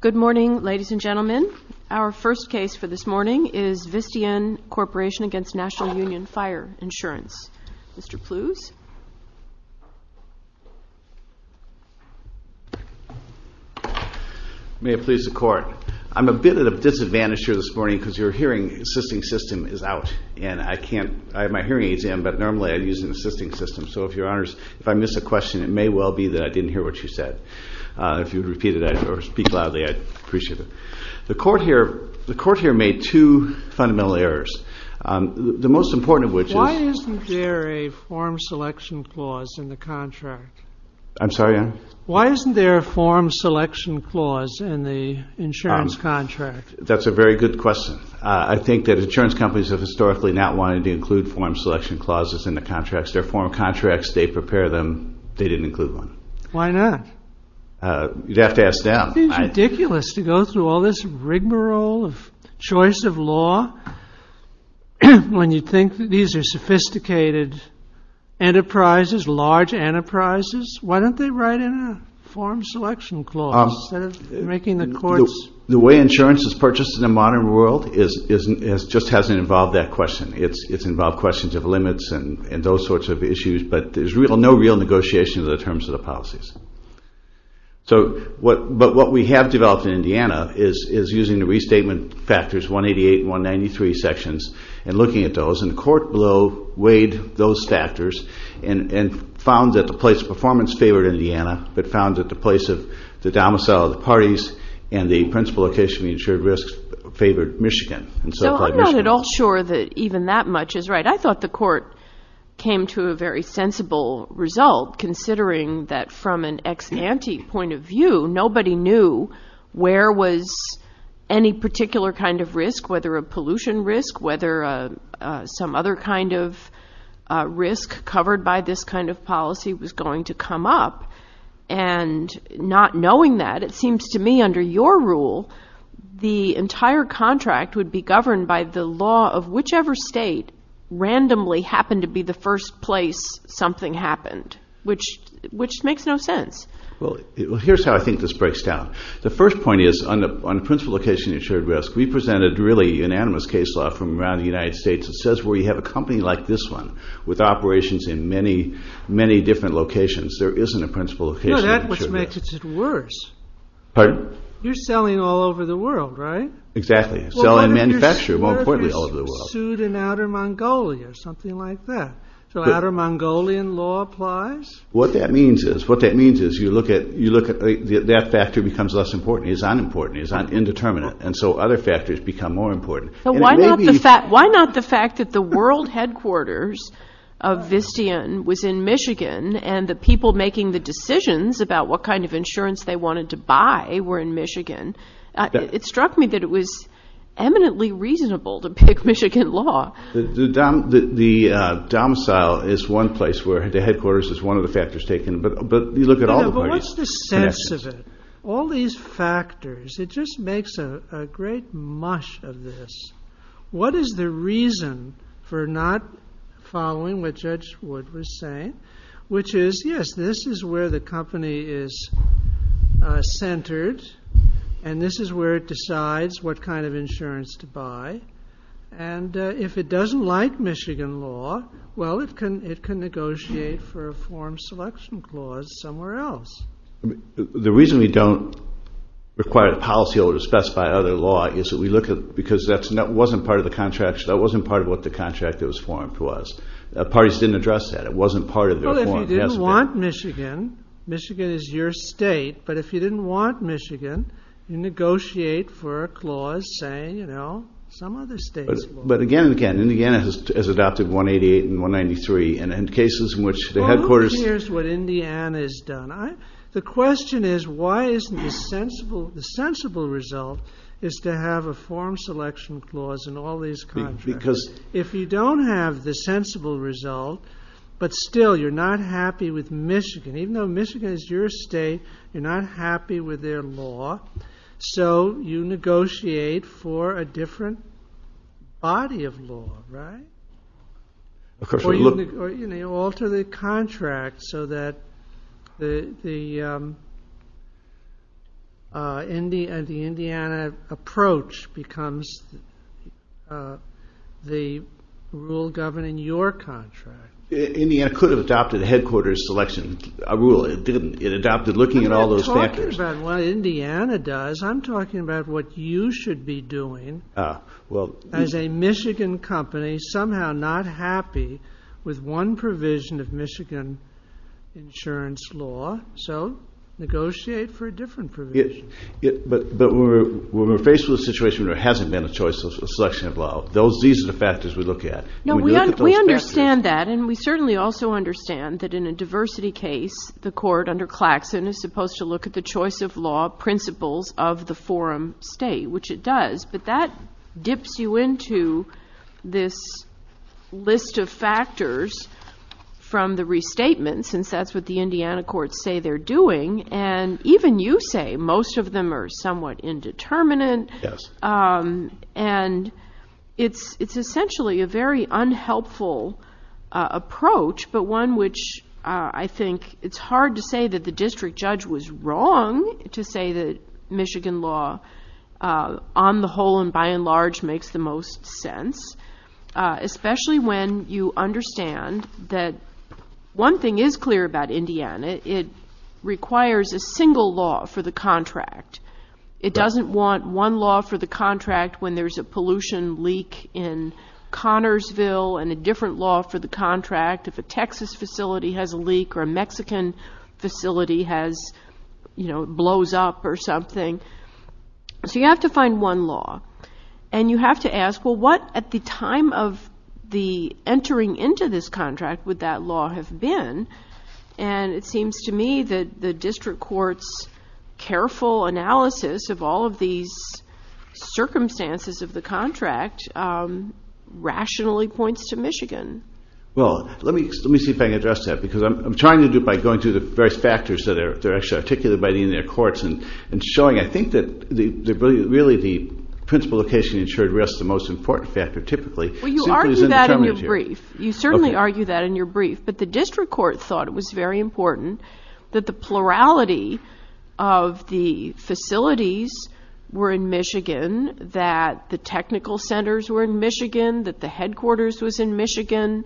Good morning, ladies and gentlemen. Our first case for this morning is Visteon Corporation v. National Union Fire Insurance. Mr. Plews. May it please the court. I'm a bit at a disadvantage here this morning because your hearing assisting system is out. I have my hearing exam, but normally I use an assisting system. So if I miss a question, it may well be that I didn't hear what you said. If you would repeat it or speak loudly, I'd appreciate it. The court here made two fundamental errors. The most important of which is… Why isn't there a form selection clause in the insurance contract? That's a very good question. I think that insurance companies have historically not wanted to include form selection clauses in the contracts. They're form contracts. They prepare them. They didn't include one. Why not? You'd have to ask them. It seems ridiculous to go through all this rigmarole of choice of law when you think that these are sophisticated enterprises, large enterprises. Why don't they write in a form selection clause instead of making the courts… The way insurance is purchased in the modern world just hasn't involved that question. It's involved questions of limits and those sorts of issues, but there's no real negotiation in terms of the policies. But what we have developed in Indiana is using the restatement factors, 188 and 193 sections, and looking at those. And the court below weighed those factors and found that the place of performance favored Indiana, but found that the place of the domicile of the parties and the principal location of the insured risk favored Michigan. So I'm not at all sure that even that much is right. I thought the court came to a very sensible result, considering that from an ex-ante point of view, nobody knew where was any particular kind of risk, whether a pollution risk, whether some other kind of risk covered by this kind of policy was going to come up. And not knowing that, it seems to me under your rule, the entire contract would be governed by the law of whichever state randomly happened to be the first place something happened, which makes no sense. Well, here's how I think this breaks down. The first point is on the principal location of the insured risk, we presented really unanimous case law from around the United States that says where you have a company like this one with operations in many, many different locations, there isn't a principal location of the insured risk. No, that's what makes it worse. Pardon? You're selling all over the world, right? Exactly. Selling and manufacturing, more importantly, all over the world. Well, what if you're sued in Outer Mongolia or something like that? So Outer Mongolian law applies? What that means is you look at that factor becomes less important, it's unimportant, it's indeterminate, and so other factors become more important. Why not the fact that the world headquarters of Vistian was in Michigan and the people making the decisions about what kind of insurance they wanted to buy were in Michigan? It struck me that it was eminently reasonable to pick Michigan law. The domicile is one place where the headquarters is one of the factors taken, but you look at all the parties. But what's the sense of it? All these factors, it just makes a great mush of this. What is the reason for not following what Judge Wood was saying, which is, yes, this is where the company is centered, and this is where it decides what kind of insurance to buy, and if it doesn't like Michigan law, well, it can negotiate for a form selection clause somewhere else. The reason we don't require the policyholders to specify other law is that we look at, because that wasn't part of what the contract that was formed was. Parties didn't address that. It wasn't part of their form. Well, if you didn't want Michigan, Michigan is your state, but if you didn't want Michigan, you negotiate for a clause saying, you know, some other state's law. But again and again, Indiana has adopted 188 and 193, and in cases in which the headquarters— Well, look at what Indiana has done. The question is, why isn't the sensible result is to have a form selection clause in all these contracts? Because— If you don't have the sensible result, but still you're not happy with Michigan, even though Michigan is your state, you're not happy with their law, so you negotiate for a different body of law, right? Or you alter the contract so that the Indiana approach becomes the rule governing your contract. Indiana could have adopted a headquarters selection rule. It didn't. It adopted looking at all those factors. But I'm talking about what Indiana does. I'm talking about what you should be doing as a Michigan company, somehow not happy with one provision of Michigan insurance law, so negotiate for a different provision. But when we're faced with a situation where there hasn't been a choice of selection of law, these are the factors we look at. No, we understand that, and we certainly also understand that in a diversity case, the court under Claxon is supposed to look at the choice of law principles of the forum state, which it does, but that dips you into this list of factors from the restatement, since that's what the Indiana courts say they're doing, and even you say most of them are somewhat indeterminate. Yes. And it's essentially a very unhelpful approach, but one which I think it's hard to say that the district judge was wrong to say that Michigan law, on the whole and by and large, makes the most sense, especially when you understand that one thing is clear about Indiana. It requires a single law for the contract. It doesn't want one law for the contract when there's a pollution leak in Connersville and a different law for the contract if a Texas facility has a leak or a Mexican facility blows up or something. So you have to find one law, and you have to ask, well, what at the time of the entering into this contract would that law have been? And it seems to me that the district court's careful analysis of all of these circumstances of the contract rationally points to Michigan. Well, let me see if I can address that, because I'm trying to do it by going through the various factors that are actually articulated by the Indiana courts and showing I think that really the principal location ensured risk is the most important factor typically. Well, you argue that in your brief. You certainly argue that in your brief. But the district court thought it was very important that the plurality of the facilities were in Michigan, that the technical centers were in Michigan, that the headquarters was in Michigan.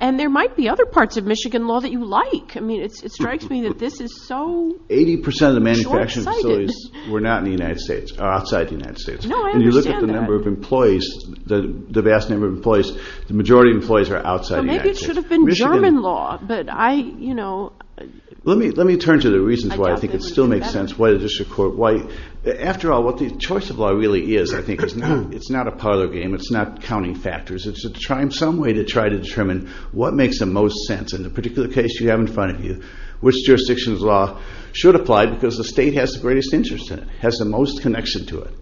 And there might be other parts of Michigan law that you like. I mean, it strikes me that this is so short-sighted. Eighty percent of the manufacturing facilities were not in the United States or outside the United States. No, I understand that. When you look at the number of employees, the vast number of employees, the majority of employees are outside the United States. Well, maybe it should have been German law. Let me turn to the reasons why I think it still makes sense. After all, what the choice of law really is, I think, it's not a parlor game. It's not counting factors. It's some way to try to determine what makes the most sense. In the particular case you have in front of you, which jurisdiction's law should apply because the state has the greatest interest in it, has the most connection to it.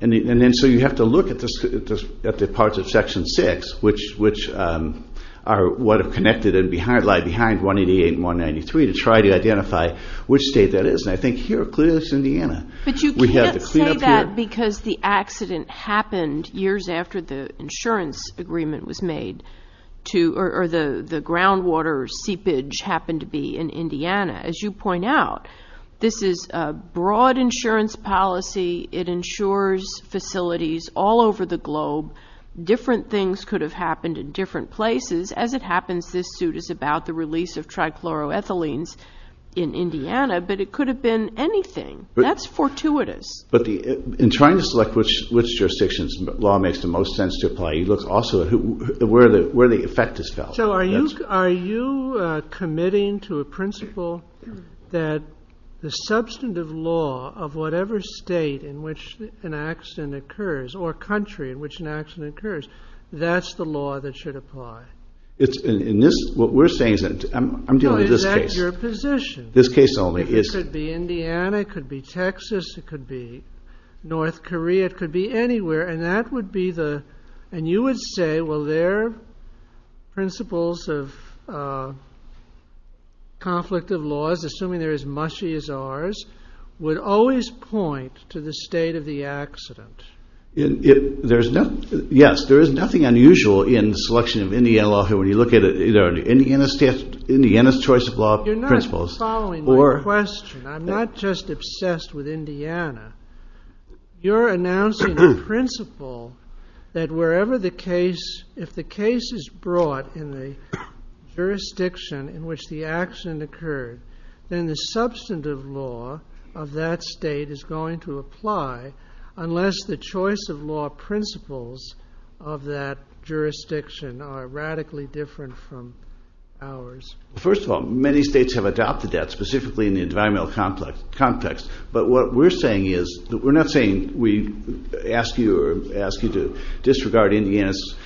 And then so you have to look at the parts of Section 6, which are what are connected and lie behind 188 and 193, to try to identify which state that is. And I think here, clearly, it's Indiana. But you can't say that because the accident happened years after the insurance agreement was made or the groundwater seepage happened to be in Indiana. As you point out, this is a broad insurance policy. It insures facilities all over the globe. Different things could have happened in different places. As it happens, this suit is about the release of trichloroethylenes in Indiana, but it could have been anything. That's fortuitous. But in trying to select which jurisdiction's law makes the most sense to apply, you look also at where the effect is felt. So are you committing to a principle that the substantive law of whatever state in which an accident occurs or country in which an accident occurs, that's the law that should apply? What we're saying is that I'm dealing with this case. No, is that your position? This case only. It could be Indiana. It could be Texas. It could be North Korea. It could be anywhere. And you would say, well, their principles of conflict of laws, assuming they're as mushy as ours, would always point to the state of the accident. Yes. There is nothing unusual in the selection of Indiana law here. When you look at it, it's Indiana's choice of law principles. You're not following my question. I'm not just obsessed with Indiana. You're announcing a principle that wherever the case, if the case is brought in the jurisdiction in which the accident occurred, then the substantive law of that state is going to apply unless the choice of law principles of that jurisdiction are radically different from ours. First of all, many states have adopted that, specifically in the environmental context. But what we're saying is that we're not saying we ask you or ask you to disregard Indiana's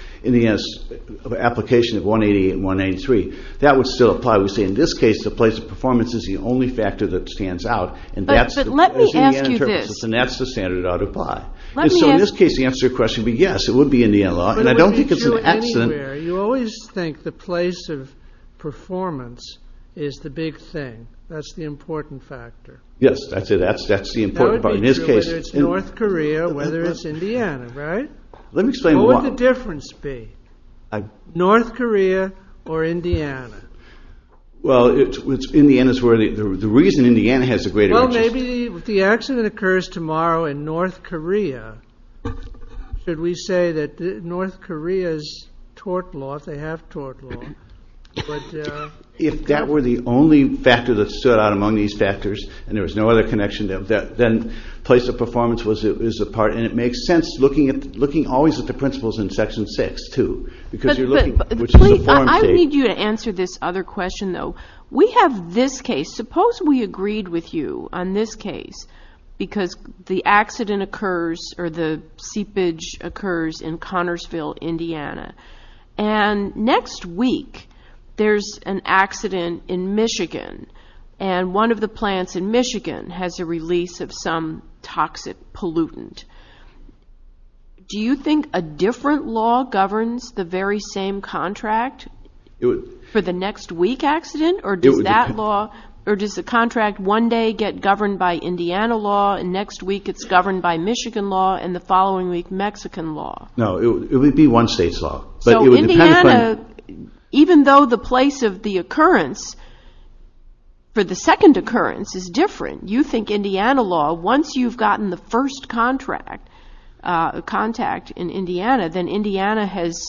application of 188 and 183. That would still apply. We say in this case the place of performance is the only factor that stands out. But let me ask you this. And that's the standard that ought to apply. And so in this case the answer to your question would be yes, it would be Indiana law. But it would be true anywhere. You always think the place of performance is the big thing. That's the important factor. Yes, I'd say that's the important part in this case. That would be true whether it's North Korea, whether it's Indiana, right? Let me explain why. What would the difference be? North Korea or Indiana? Well, Indiana's where the reason Indiana has a greater interest. Well, maybe if the accident occurs tomorrow in North Korea, should we say that North Korea's tort law, they have tort law. If that were the only factor that stood out among these factors and there was no other connection, then place of performance is a part. And it makes sense looking always at the principles in Section 6, too. I need you to answer this other question, though. We have this case. Suppose we agreed with you on this case because the accident occurs or the seepage occurs in Connersville, Indiana. And next week there's an accident in Michigan and one of the plants in Michigan has a release of some toxic pollutant. Do you think a different law governs the very same contract for the next week accident? Or does the contract one day get governed by Indiana law and next week it's governed by Michigan law and the following week Mexican law? No, it would be one state's law. So, Indiana, even though the place of the occurrence for the second occurrence is different, you think Indiana law, once you've gotten the first contract, contact in Indiana, then Indiana has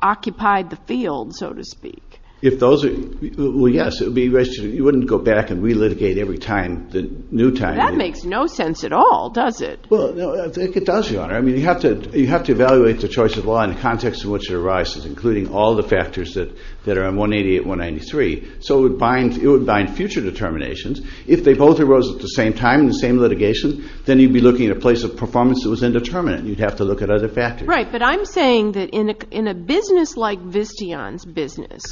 occupied the field, so to speak. If those are, well, yes. You wouldn't go back and relitigate every time, the new time. That makes no sense at all, does it? Well, I think it does, Your Honor. I mean, you have to evaluate the choice of law in the context in which it arises, including all the factors that are in 188, 193. So it would bind future determinations. If they both arose at the same time in the same litigation, then you'd be looking at a place of performance that was indeterminate and you'd have to look at other factors. Right, but I'm saying that in a business like Visteon's business,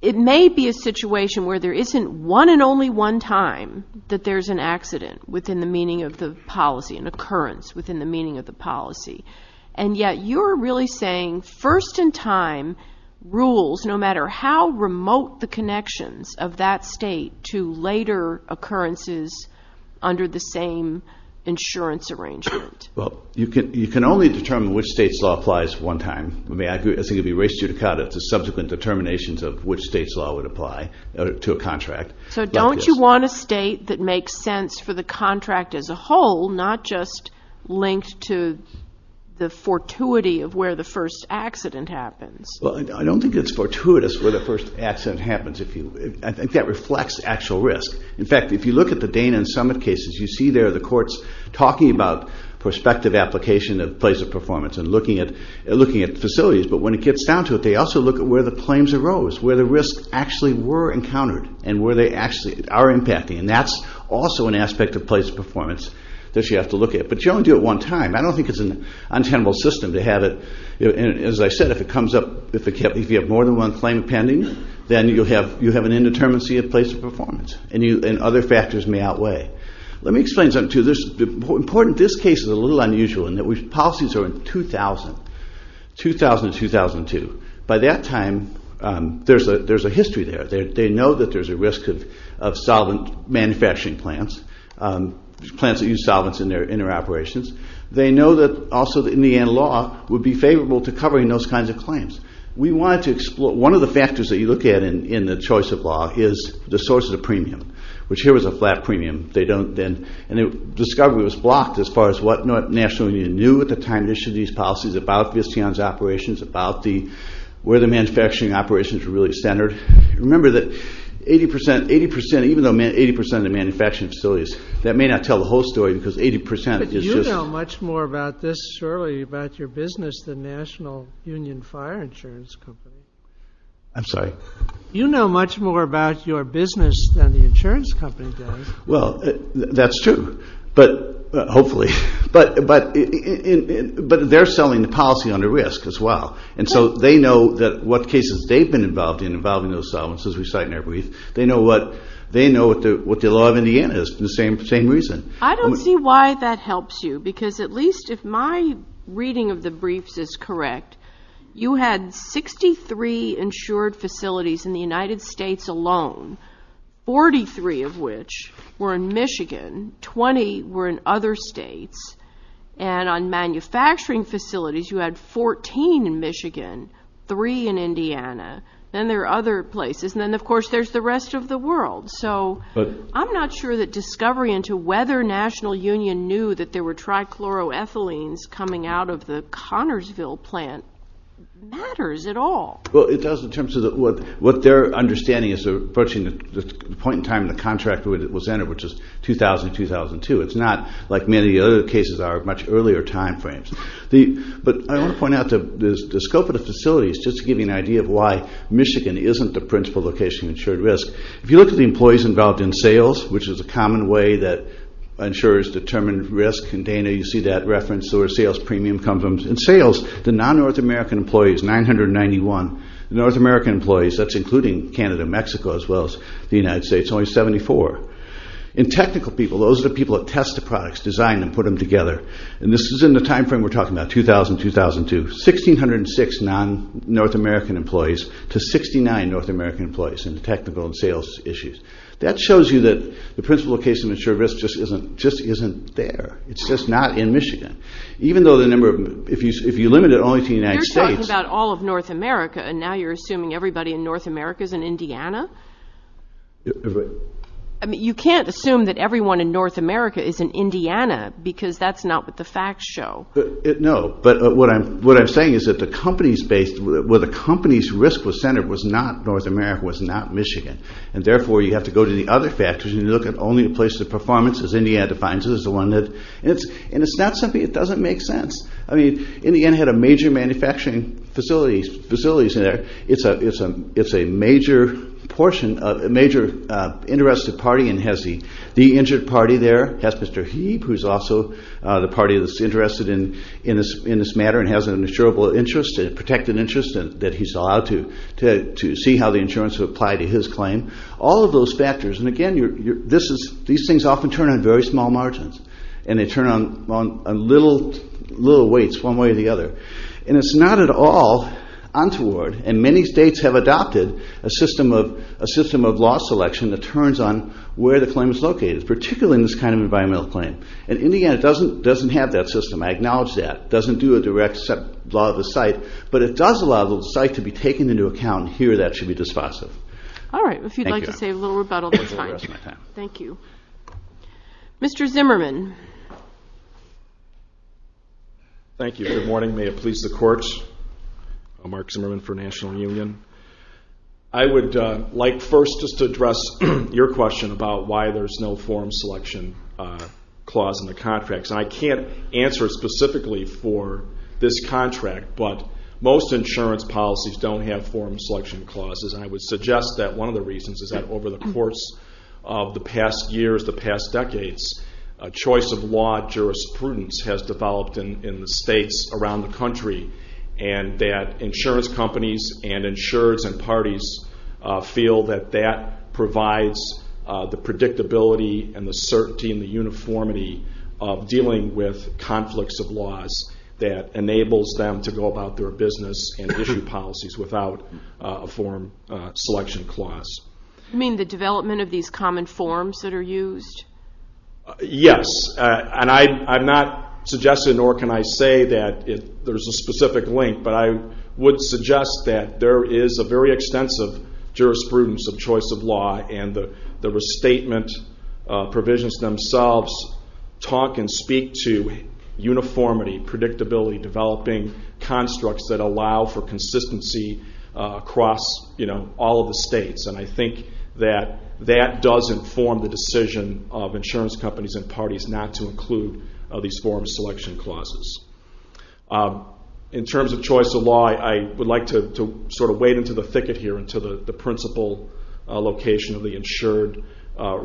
it may be a situation where there isn't one and only one time that there's an accident within the meaning of the policy and occurrence within the meaning of the policy, and yet you're really saying first-in-time rules, no matter how remote the connections of that state to later occurrences under the same insurance arrangement. Well, you can only determine which state's law applies one time. I think it would be res judicata to subsequent determinations of which state's law would apply to a contract. So don't you want a state that makes sense for the contract as a whole, not just linked to the fortuity of where the first accident happens? Well, I don't think it's fortuitous where the first accident happens. I think that reflects actual risk. In fact, if you look at the Dana and Summit cases, you see there the courts talking about prospective application of place of performance and looking at facilities, but when it gets down to it, they also look at where the claims arose, where the risks actually were encountered and where they actually are impacting, and that's also an aspect of place of performance that you have to look at. But you only do it one time. I don't think it's an untenable system to have it. As I said, if you have more than one claim pending, then you have an indeterminacy of place of performance, and other factors may outweigh. Let me explain something to you. This case is a little unusual in that policies are in 2000, 2000 to 2002. By that time, there's a history there. They know that there's a risk of solvent manufacturing plants, plants that use solvents in their operations. They know that also in the end, law would be favorable to covering those kinds of claims. We wanted to explore. One of the factors that you look at in the choice of law is the source of the premium, which here was a flat premium. Discovery was blocked as far as what National Union knew at the time they issued these policies about Visteon's operations, about where the manufacturing operations were really centered. Remember that 80%, even though 80% of the manufacturing facilities, that may not tell the whole story because 80% is just... But you know much more about this, surely, about your business than National Union Fire Insurance Company. I'm sorry? You know much more about your business than the insurance company does. Well, that's true. Hopefully. But they're selling the policy under risk as well. And so they know what cases they've been involved in involving those solvents as we cite in our brief. They know what the law of Indiana is for the same reason. I don't see why that helps you because at least if my reading of the briefs is correct, you had 63 insured facilities in the United States alone, 43 of which were in Michigan, 20 were in other states, and on manufacturing facilities you had 14 in Michigan, 3 in Indiana. Then there are other places. And then, of course, there's the rest of the world. So I'm not sure that discovery into whether National Union knew that there were trichloroethylenes coming out of the Connersville plant matters at all. Well, it does in terms of what their understanding is approaching the point in time the contract was entered, which is 2000-2002. It's not like many of the other cases are much earlier time frames. But I want to point out the scope of the facilities just to give you an idea of why Michigan isn't the principal location of insured risk. If you look at the employees involved in sales, which is a common way that insurers determine risk, and Dana, you see that reference, so are sales premium companies. In sales, the non-North American employees, 991. The North American employees, that's including Canada and Mexico as well as the United States, only 74. In technical people, those are the people that test the products, design them, put them together. And this is in the time frame we're talking about, 2000-2002, 1,606 non-North American employees to 69 North American employees in technical and sales issues. That shows you that the principal location of insured risk just isn't there. It's just not in Michigan. Even though the number of – if you limit it only to the United States – You're talking about all of North America, and now you're assuming everybody in North America is in Indiana? You can't assume that everyone in North America is in Indiana because that's not what the facts show. No, but what I'm saying is that the company's risk was centered was not North America, was not Michigan, and therefore you have to go to the other factors and you look at only the places of performance, as Indiana defines it as the one that – And it's not something that doesn't make sense. Indiana had a major manufacturing facility in there. It's a major portion of – a major interested party and has the injured party there, has Mr. Heap, who's also the party that's interested in this matter and has an insurable interest, a protected interest that he's allowed to see how the insurance would apply to his claim. All of those factors. And again, these things often turn on very small margins and they turn on little weights one way or the other. And it's not at all untoward. And many states have adopted a system of law selection that turns on where the claim is located, particularly in this kind of environmental claim. And Indiana doesn't have that system. I acknowledge that. It doesn't do a direct set law of the site, but it does allow the site to be taken into account. Here, that should be dispositive. All right. If you'd like to say a little rebuttal, that's fine. Thank you. Mr. Zimmerman. Thank you. Good morning. May it please the Court. I'm Mark Zimmerman for National Union. I would like first just to address your question about why there's no forum selection clause in the contract. I can't answer specifically for this contract, but most insurance policies don't have forum selection clauses. I would suggest that one of the reasons is that over the course of the past years, the past decades, a choice of law jurisprudence has developed in the states around the country and that insurance companies and insurers and parties feel that that provides the predictability and the certainty and the uniformity of dealing with conflicts of laws that enables them to go about their business and issue policies without a forum selection clause. You mean the development of these common forms that are used? Yes. And I'm not suggesting nor can I say that there's a specific link, but I would suggest that there is a very extensive jurisprudence of choice of law and the restatement provisions themselves talk and speak to uniformity, predictability, developing constructs that allow for consistency across all of the states. And I think that that does inform the decision of insurance companies and parties not to include these forum selection clauses. In terms of choice of law, I would like to sort of wade into the thicket here, into the principal location of the insured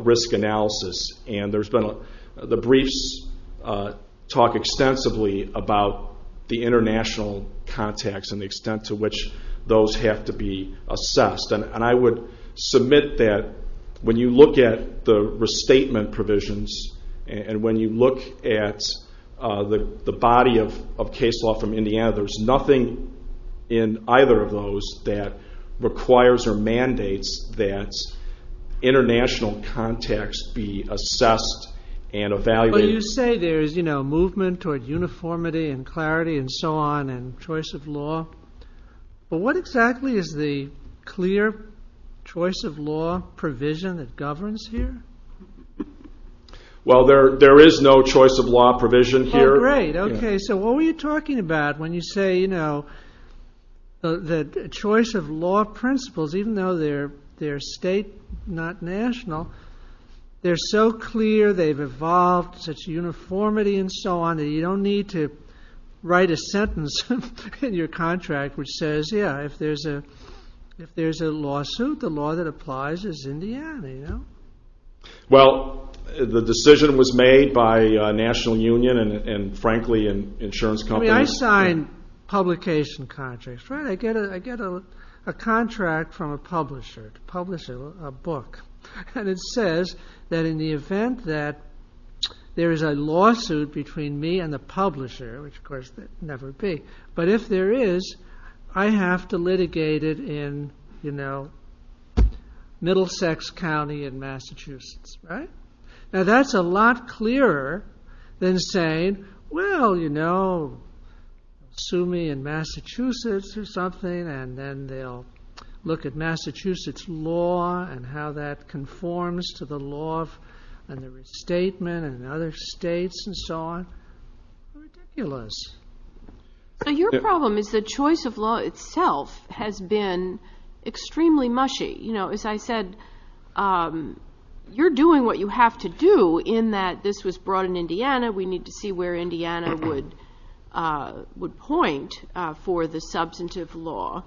risk analysis. And the briefs talk extensively about the international context and the extent to which those have to be assessed. And I would submit that when you look at the restatement provisions and when you look at the body of case law from Indiana, there's nothing in either of those that requires or mandates that international context be assessed and evaluated. Well, you say there's movement toward uniformity and clarity and so on and choice of law. But what exactly is the clear choice of law provision that governs here? Well, there is no choice of law provision here. Oh, great. Okay. So what were you talking about when you say that choice of law principles, even though they're state, not national, they're so clear, they've evolved such uniformity and so on that you don't need to write a sentence in your contract which says, yeah, if there's a lawsuit, the law that applies is Indiana, you know? Well, the decision was made by National Union and, frankly, insurance companies. I mean, I sign publication contracts, right? I get a contract from a publisher to publish a book. And it says that in the event that there is a lawsuit between me and the publisher, which, of course, there would never be, but if there is, I have to litigate it in, you know, Middlesex County in Massachusetts, right? Now that's a lot clearer than saying, well, you know, sue me in Massachusetts or something and then they'll look at Massachusetts law and how that conforms to the law and the restatement and other states and so on. Ridiculous. So your problem is that choice of law itself has been extremely mushy. You know, as I said, you're doing what you have to do in that this was brought in Indiana. We need to see where Indiana would point for the substantive law.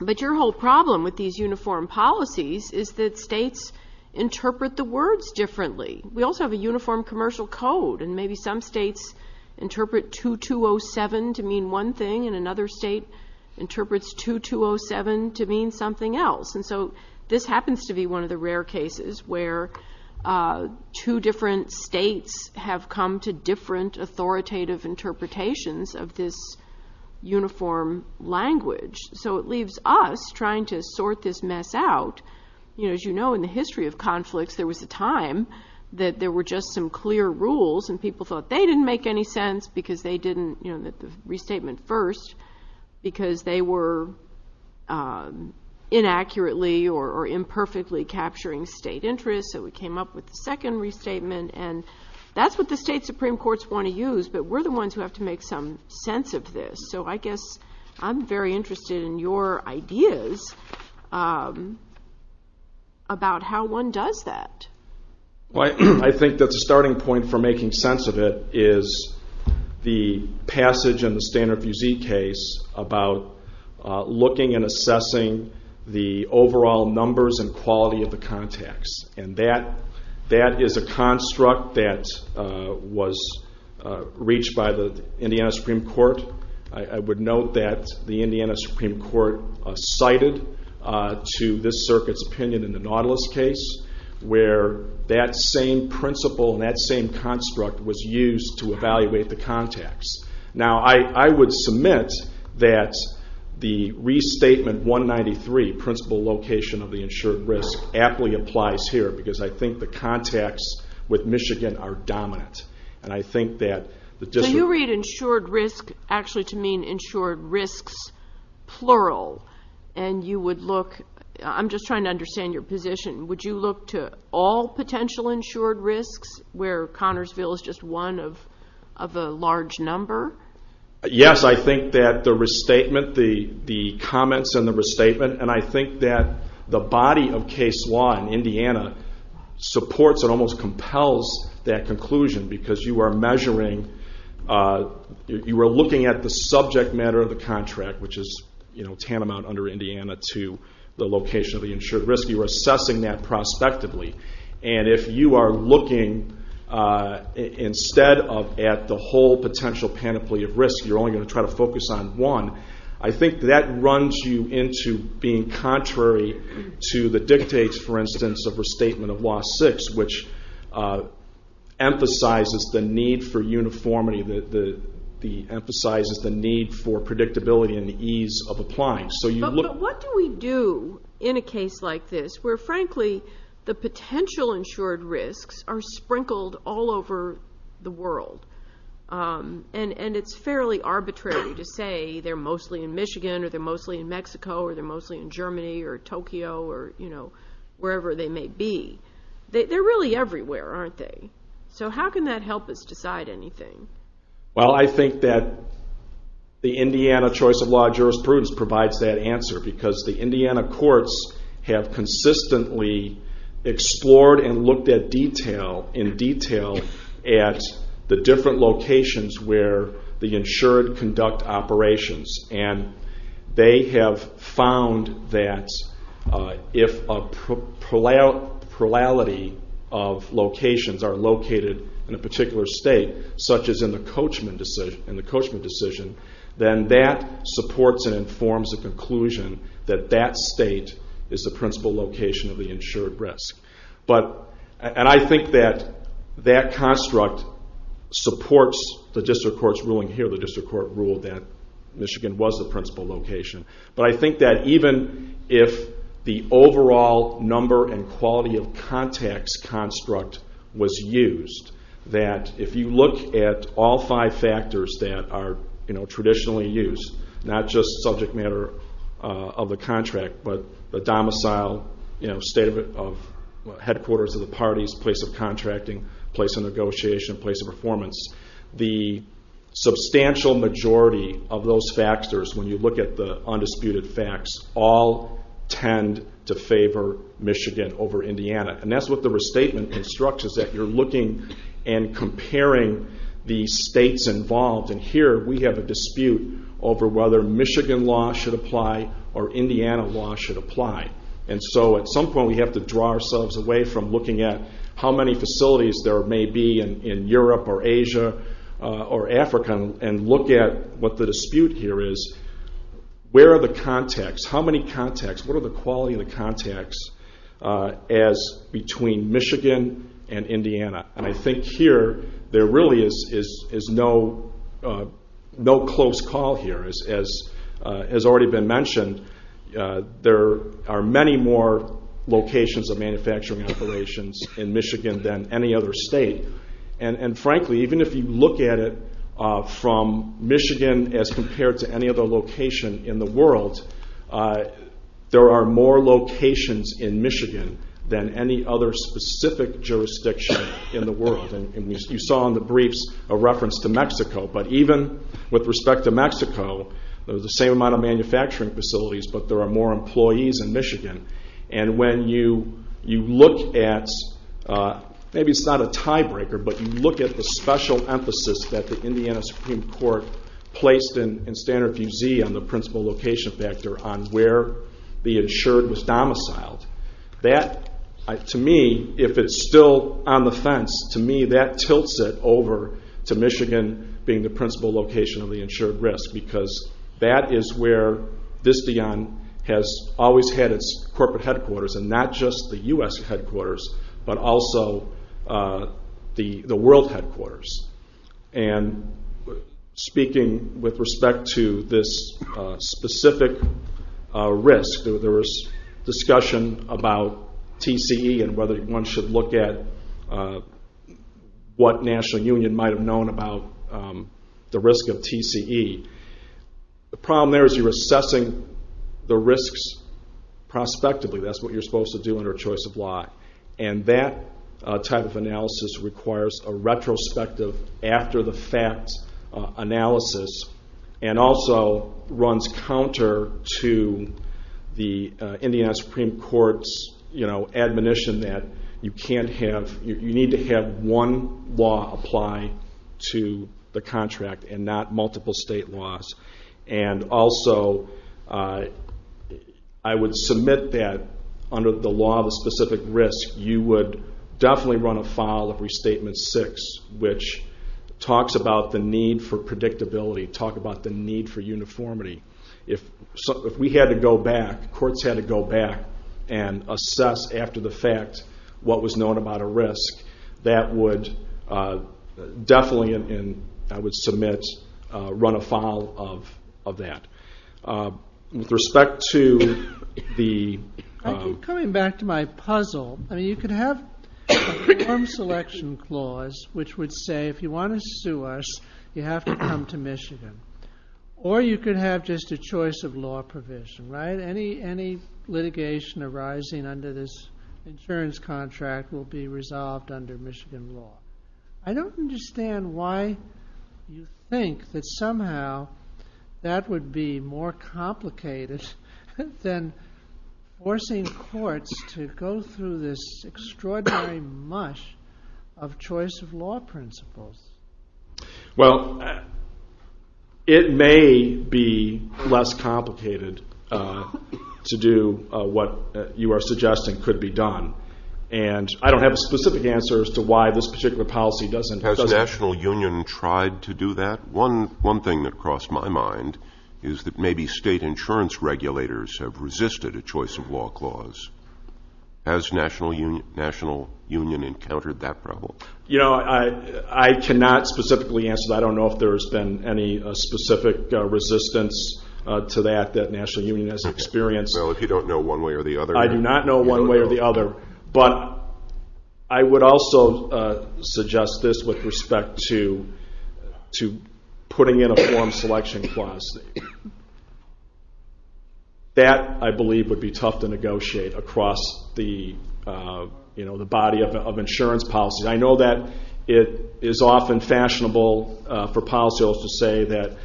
But your whole problem with these uniform policies is that states interpret the words differently. We also have a uniform commercial code, and maybe some states interpret 2207 to mean one thing and another state interprets 2207 to mean something else. And so this happens to be one of the rare cases where two different states have come to different authoritative interpretations of this uniform language. So it leaves us trying to sort this mess out. You know, as you know, in the history of conflicts, there was a time that there were just some clear rules and people thought they didn't make any sense because they didn't, you know, so we came up with the second restatement, and that's what the state Supreme Courts want to use, but we're the ones who have to make some sense of this. So I guess I'm very interested in your ideas about how one does that. Well, I think that the starting point for making sense of it is the passage in the Standard Fusilier case about looking and assessing the overall numbers and quality of the contacts, and that is a construct that was reached by the Indiana Supreme Court. I would note that the Indiana Supreme Court cited to this circuit's opinion in the Nautilus case where that same principle and that same construct was used to evaluate the contacts. Now, I would submit that the restatement 193, principle location of the insured risk, aptly applies here because I think the contacts with Michigan are dominant, and I think that the district... So you read insured risk actually to mean insured risks plural, and you would look, I'm just trying to understand your position, would you look to all potential insured risks where Connersville is just one of a large number? Yes, I think that the restatement, the comments in the restatement, and I think that the body of case law in Indiana supports and almost compels that conclusion because you are measuring, you are looking at the subject matter of the contract, which is tantamount under Indiana to the location of the insured risk. You are assessing that prospectively, and if you are looking instead of at the whole potential panoply of risk, you're only going to try to focus on one, I think that runs you into being contrary to the dictates, for instance, of restatement of law 6, which emphasizes the need for uniformity, emphasizes the need for predictability and the ease of applying. But what do we do in a case like this where, frankly, the potential insured risks are sprinkled all over the world and it's fairly arbitrary to say they're mostly in Michigan or they're mostly in Mexico or they're mostly in Germany or Tokyo or wherever they may be. They're really everywhere, aren't they? So how can that help us decide anything? Well, I think that the Indiana choice of law jurisprudence provides that answer because the Indiana courts have consistently explored and looked in detail at the different locations where the insured conduct operations. And they have found that if a plurality of locations are located in a particular state, such as in the Coachman decision, then that supports and informs the conclusion that that state is the principal location of the insured risk. And I think that that construct supports the district court's ruling here. The district court ruled that Michigan was the principal location. But I think that even if the overall number and quality of contacts construct was used, that if you look at all five factors that are traditionally used, not just subject matter of the contract, but the domicile, state of headquarters of the parties, place of contracting, place of negotiation, place of performance, the substantial majority of those factors, when you look at the undisputed facts, all tend to favor Michigan over Indiana. And that's what the restatement construct is that you're looking and comparing the states involved. And here we have a dispute over whether Michigan law should apply or Indiana law should apply. And so at some point we have to draw ourselves away from looking at how many facilities there may be in Europe or Asia or Africa and look at what the dispute here is. Where are the contacts? How many contacts? What are the quality of the contacts between Michigan and Indiana? And I think here there really is no close call here. As has already been mentioned, there are many more locations of manufacturing operations in Michigan than any other state. And frankly, even if you look at it from Michigan as compared to any other location in the world, there are more locations in Michigan than any other specific jurisdiction in the world. And you saw in the briefs a reference to Mexico. But even with respect to Mexico, there's the same amount of manufacturing facilities, but there are more employees in Michigan. And when you look at, maybe it's not a tiebreaker, but you look at the special emphasis that the Indiana Supreme Court placed in Standard View Z on the principal location factor on where the insured was domiciled, that to me, if it's still on the fence, to me that tilts it over to Michigan being the principal location of the insured risk. Because that is where Visteon has always had its corporate headquarters and not just the U.S. headquarters, but also the world headquarters. And speaking with respect to this specific risk, there was discussion about TCE and whether one should look at what National Union might have known about the risk of TCE. The problem there is you're assessing the risks prospectively. That's what you're supposed to do under a choice of law. And that type of analysis requires a retrospective after the facts analysis and also runs counter to the Indiana Supreme Court's admonition that you need to have one law apply to the contract and not multiple state laws. And also I would submit that under the law of a specific risk you would definitely run a file of Restatement 6 which talks about the need for predictability, talks about the need for uniformity. If courts had to go back and assess after the fact what was known about a risk, that would definitely, I would submit, run a file of that. With respect to the... I keep coming back to my puzzle. You could have a form selection clause which would say if you want to sue us, you have to come to Michigan. Or you could have just a choice of law provision, right? Any litigation arising under this insurance contract will be resolved under Michigan law. I don't understand why you think that somehow that would be more complicated than forcing courts to go through this extraordinary mush of choice of law principles. Well, it may be less complicated to do what you are suggesting could be done. And I don't have a specific answer as to why this particular policy doesn't... Has the National Union tried to do that? One thing that crossed my mind is that maybe state insurance regulators have resisted a choice of law clause. Has the National Union encountered that problem? You know, I cannot specifically answer that. I don't know if there has been any specific resistance to that that the National Union has experienced. Well, if you don't know one way or the other... I do not know one way or the other. But I would also suggest this with respect to putting in a form selection clause. That, I believe, would be tough to negotiate across the body of insurance policy. I know that it is often fashionable for policyholders to say that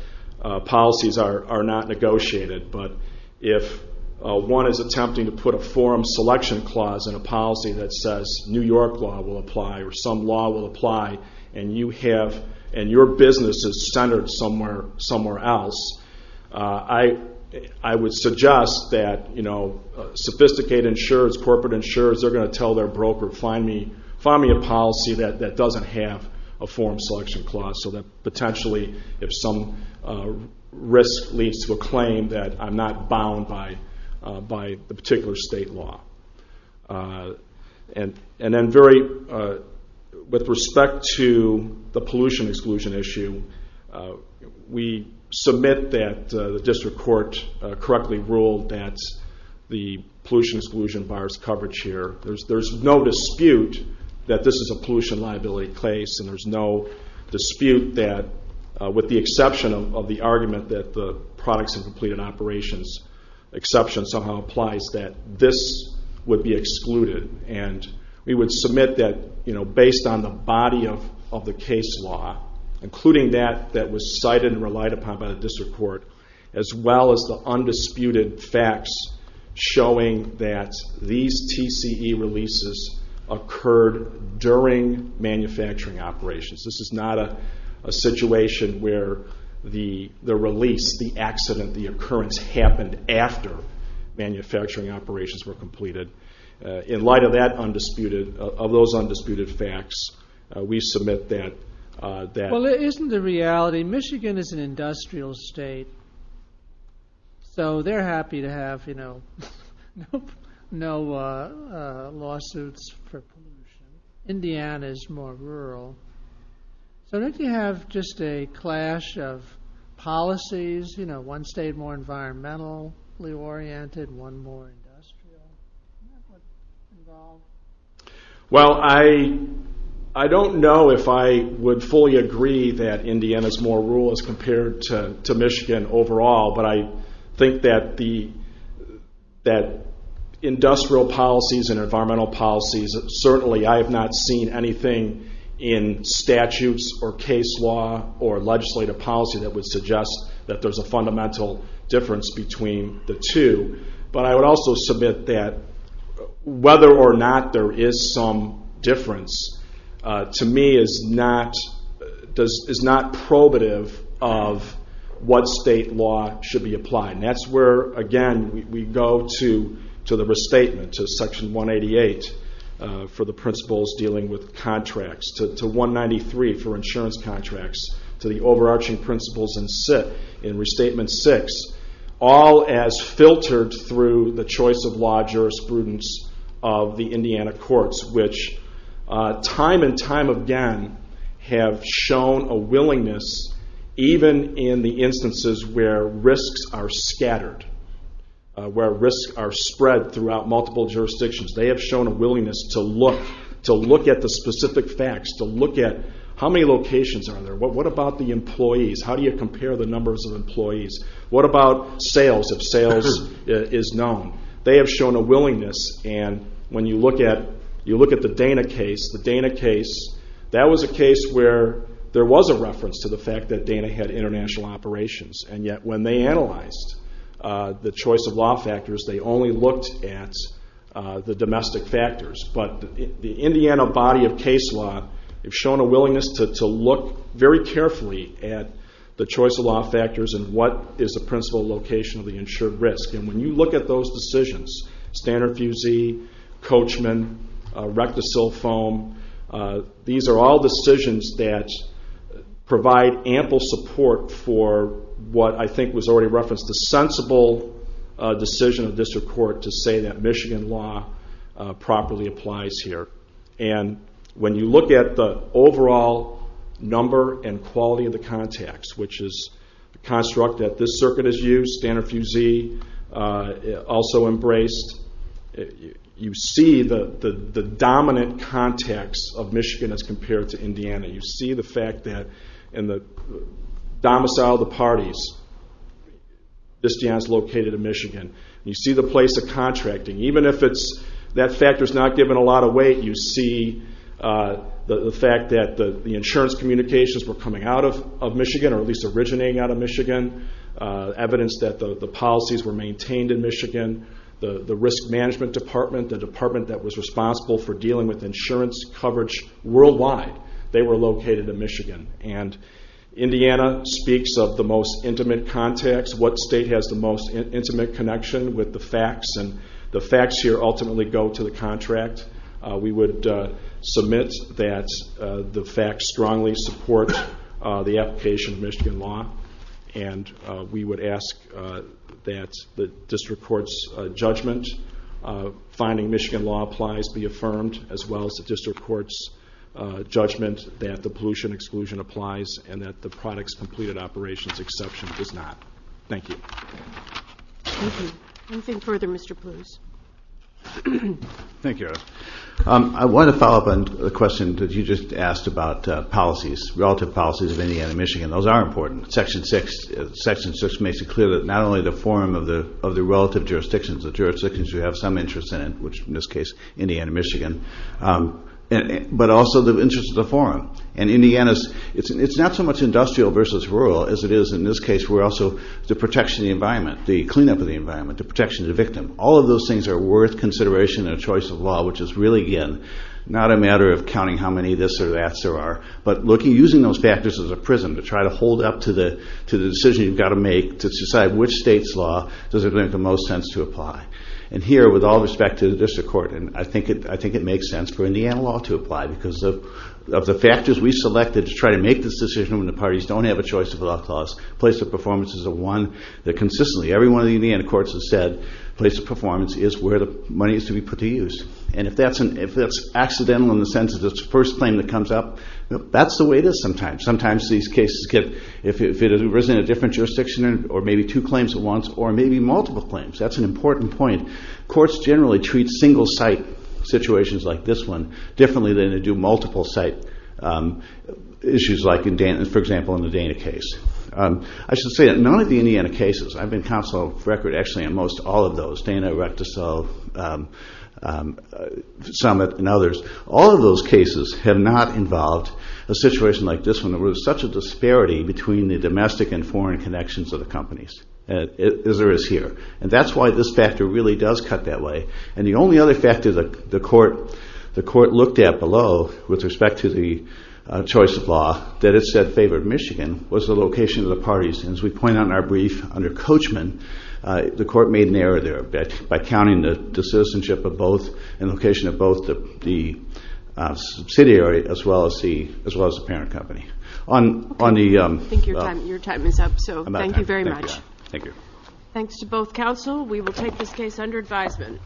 policies are not negotiated. But if one is attempting to put a form selection clause in a policy that says New York law will apply or some law will apply, and your business is centered somewhere else, I would suggest that sophisticated insurers, corporate insurers, they're going to tell their broker, find me a policy that doesn't have a form selection clause. So that potentially, if some risk leads to a claim that I'm not bound by the particular state law. And then with respect to the pollution exclusion issue, we submit that the district court correctly ruled that the pollution exclusion bars coverage here. There's no dispute that this is a pollution liability case and there's no dispute that, with the exception of the argument that the products and completed operations exception somehow applies, that this would be excluded. And we would submit that, based on the body of the case law, including that that was cited and relied upon by the district court, as well as the undisputed facts showing that these TCE releases occurred during manufacturing operations. This is not a situation where the release, the accident, the occurrence happened after manufacturing operations were completed. In light of that undisputed, of those undisputed facts, we submit that... Well, isn't the reality, Michigan is an industrial state, so they're happy to have, you know, no lawsuits for pollution. Indiana is more rural. So don't you have just a clash of policies? You know, one state more environmentally oriented, one more industrial? Do you know what's involved? Well, I don't know if I would fully agree that Indiana's more rural as compared to Michigan overall, but I think that the... that industrial policies and environmental policies, certainly I have not seen anything in statutes or case law or legislative policy that would suggest that there's a fundamental difference between the two. But I would also submit that whether or not there is some difference, to me, is not probative of what state law should be applied. And that's where, again, we go to the restatement, to Section 188 for the principles dealing with contracts, to 193 for insurance contracts, to the overarching principles in Restatement 6, all as filtered through the choice of law jurisprudence of the Indiana courts, which time and time again have shown a willingness, even in the instances where risks are scattered, where risks are spread throughout multiple jurisdictions, they have shown a willingness to look, to look at the specific facts, to look at how many locations are there, what about the employees, how do you compare the numbers of employees, what about sales, if sales is known. They have shown a willingness, and when you look at the Dana case, that was a case where there was a reference to the fact that Dana had international operations, and yet when they analyzed the choice of law factors, they only looked at the domestic factors. But the Indiana body of case law have shown a willingness to look very carefully at the choice of law factors and what is the principal location of the insured risk. And when you look at those decisions, Standard Fusee, Coachman, RectoSilfoam, these are all decisions that provide ample support for what I think was already referenced, the sensible decision of district court to say that Michigan law properly applies here. And when you look at the overall number and quality of the context, which is the construct that this circuit has used, Standard Fusee also embraced, you see the dominant context of Michigan as compared to Indiana. You see the fact that in the domicile of the parties, this is located in Michigan. You see the place of contracting. Even if that factor is not giving a lot of weight, you see the fact that the insurance communications were coming out of Michigan, or at least originating out of Michigan, evidence that the policies were maintained in Michigan, the risk management department, the department that was responsible for dealing with insurance coverage worldwide, they were located in Michigan. And Indiana speaks of the most intimate context, what state has the most intimate connection with the facts, and the facts here ultimately go to the contract. We would submit that the facts strongly support the application of Michigan law, and we would ask that the district court's judgment finding Michigan law applies be affirmed, as well as the district court's judgment that the pollution exclusion applies, and that the products completed operations exception does not. Thank you. Thank you. Anything further, Mr. Pluse? Thank you. I wanted to follow up on the question that you just asked about policies, relative policies of Indiana and Michigan. Those are important. Section 6 makes it clear that not only the form of the relative jurisdictions, the jurisdictions you have some interest in, which in this case Indiana and Michigan, but also the interest of the forum. And Indiana, it's not so much industrial versus rural as it is in this case, we're also the protection of the environment, the cleanup of the environment, the protection of the victim. All of those things are worth consideration in a choice of law, which is really, again, not a matter of counting how many this or that's there are, but using those factors as a prism to try to hold up to the decision you've got to make to decide which state's law does it make the most sense to apply. And here, with all respect to the district court, I think it makes sense for Indiana law to apply because of the factors we selected to try to make this decision when the parties don't have a choice of a law clause, place of performance is the one that consistently, every one of the Indiana courts has said, place of performance is where the money is to be put to use. And if that's accidental in the sense of the first claim that comes up, that's the way it is sometimes. Sometimes these cases get, if it was in a different jurisdiction or maybe two claims at once or maybe multiple claims, that's an important point. Courts generally treat single-site situations like this one differently than they do multiple-site issues like, for example, in the Dana case. I should say that none of the Indiana cases, I've been counsel of record actually on most all of those, Dana, Erectus, Summit, and others, all of those cases have not involved a situation like this one where there's such a disparity between the domestic and foreign connections of the companies, as there is here. And that's why this factor really does cut that way. And the only other factor the court looked at below with respect to the choice of law that it said favored Michigan was the location of the parties. And as we point out in our brief, under Coachman, the court made an error there by counting the citizenship of both and location of both the subsidiary as well as the parent company. I think your time is up, so thank you very much. Thank you. Thanks to both counsel. We will take this case under advisement.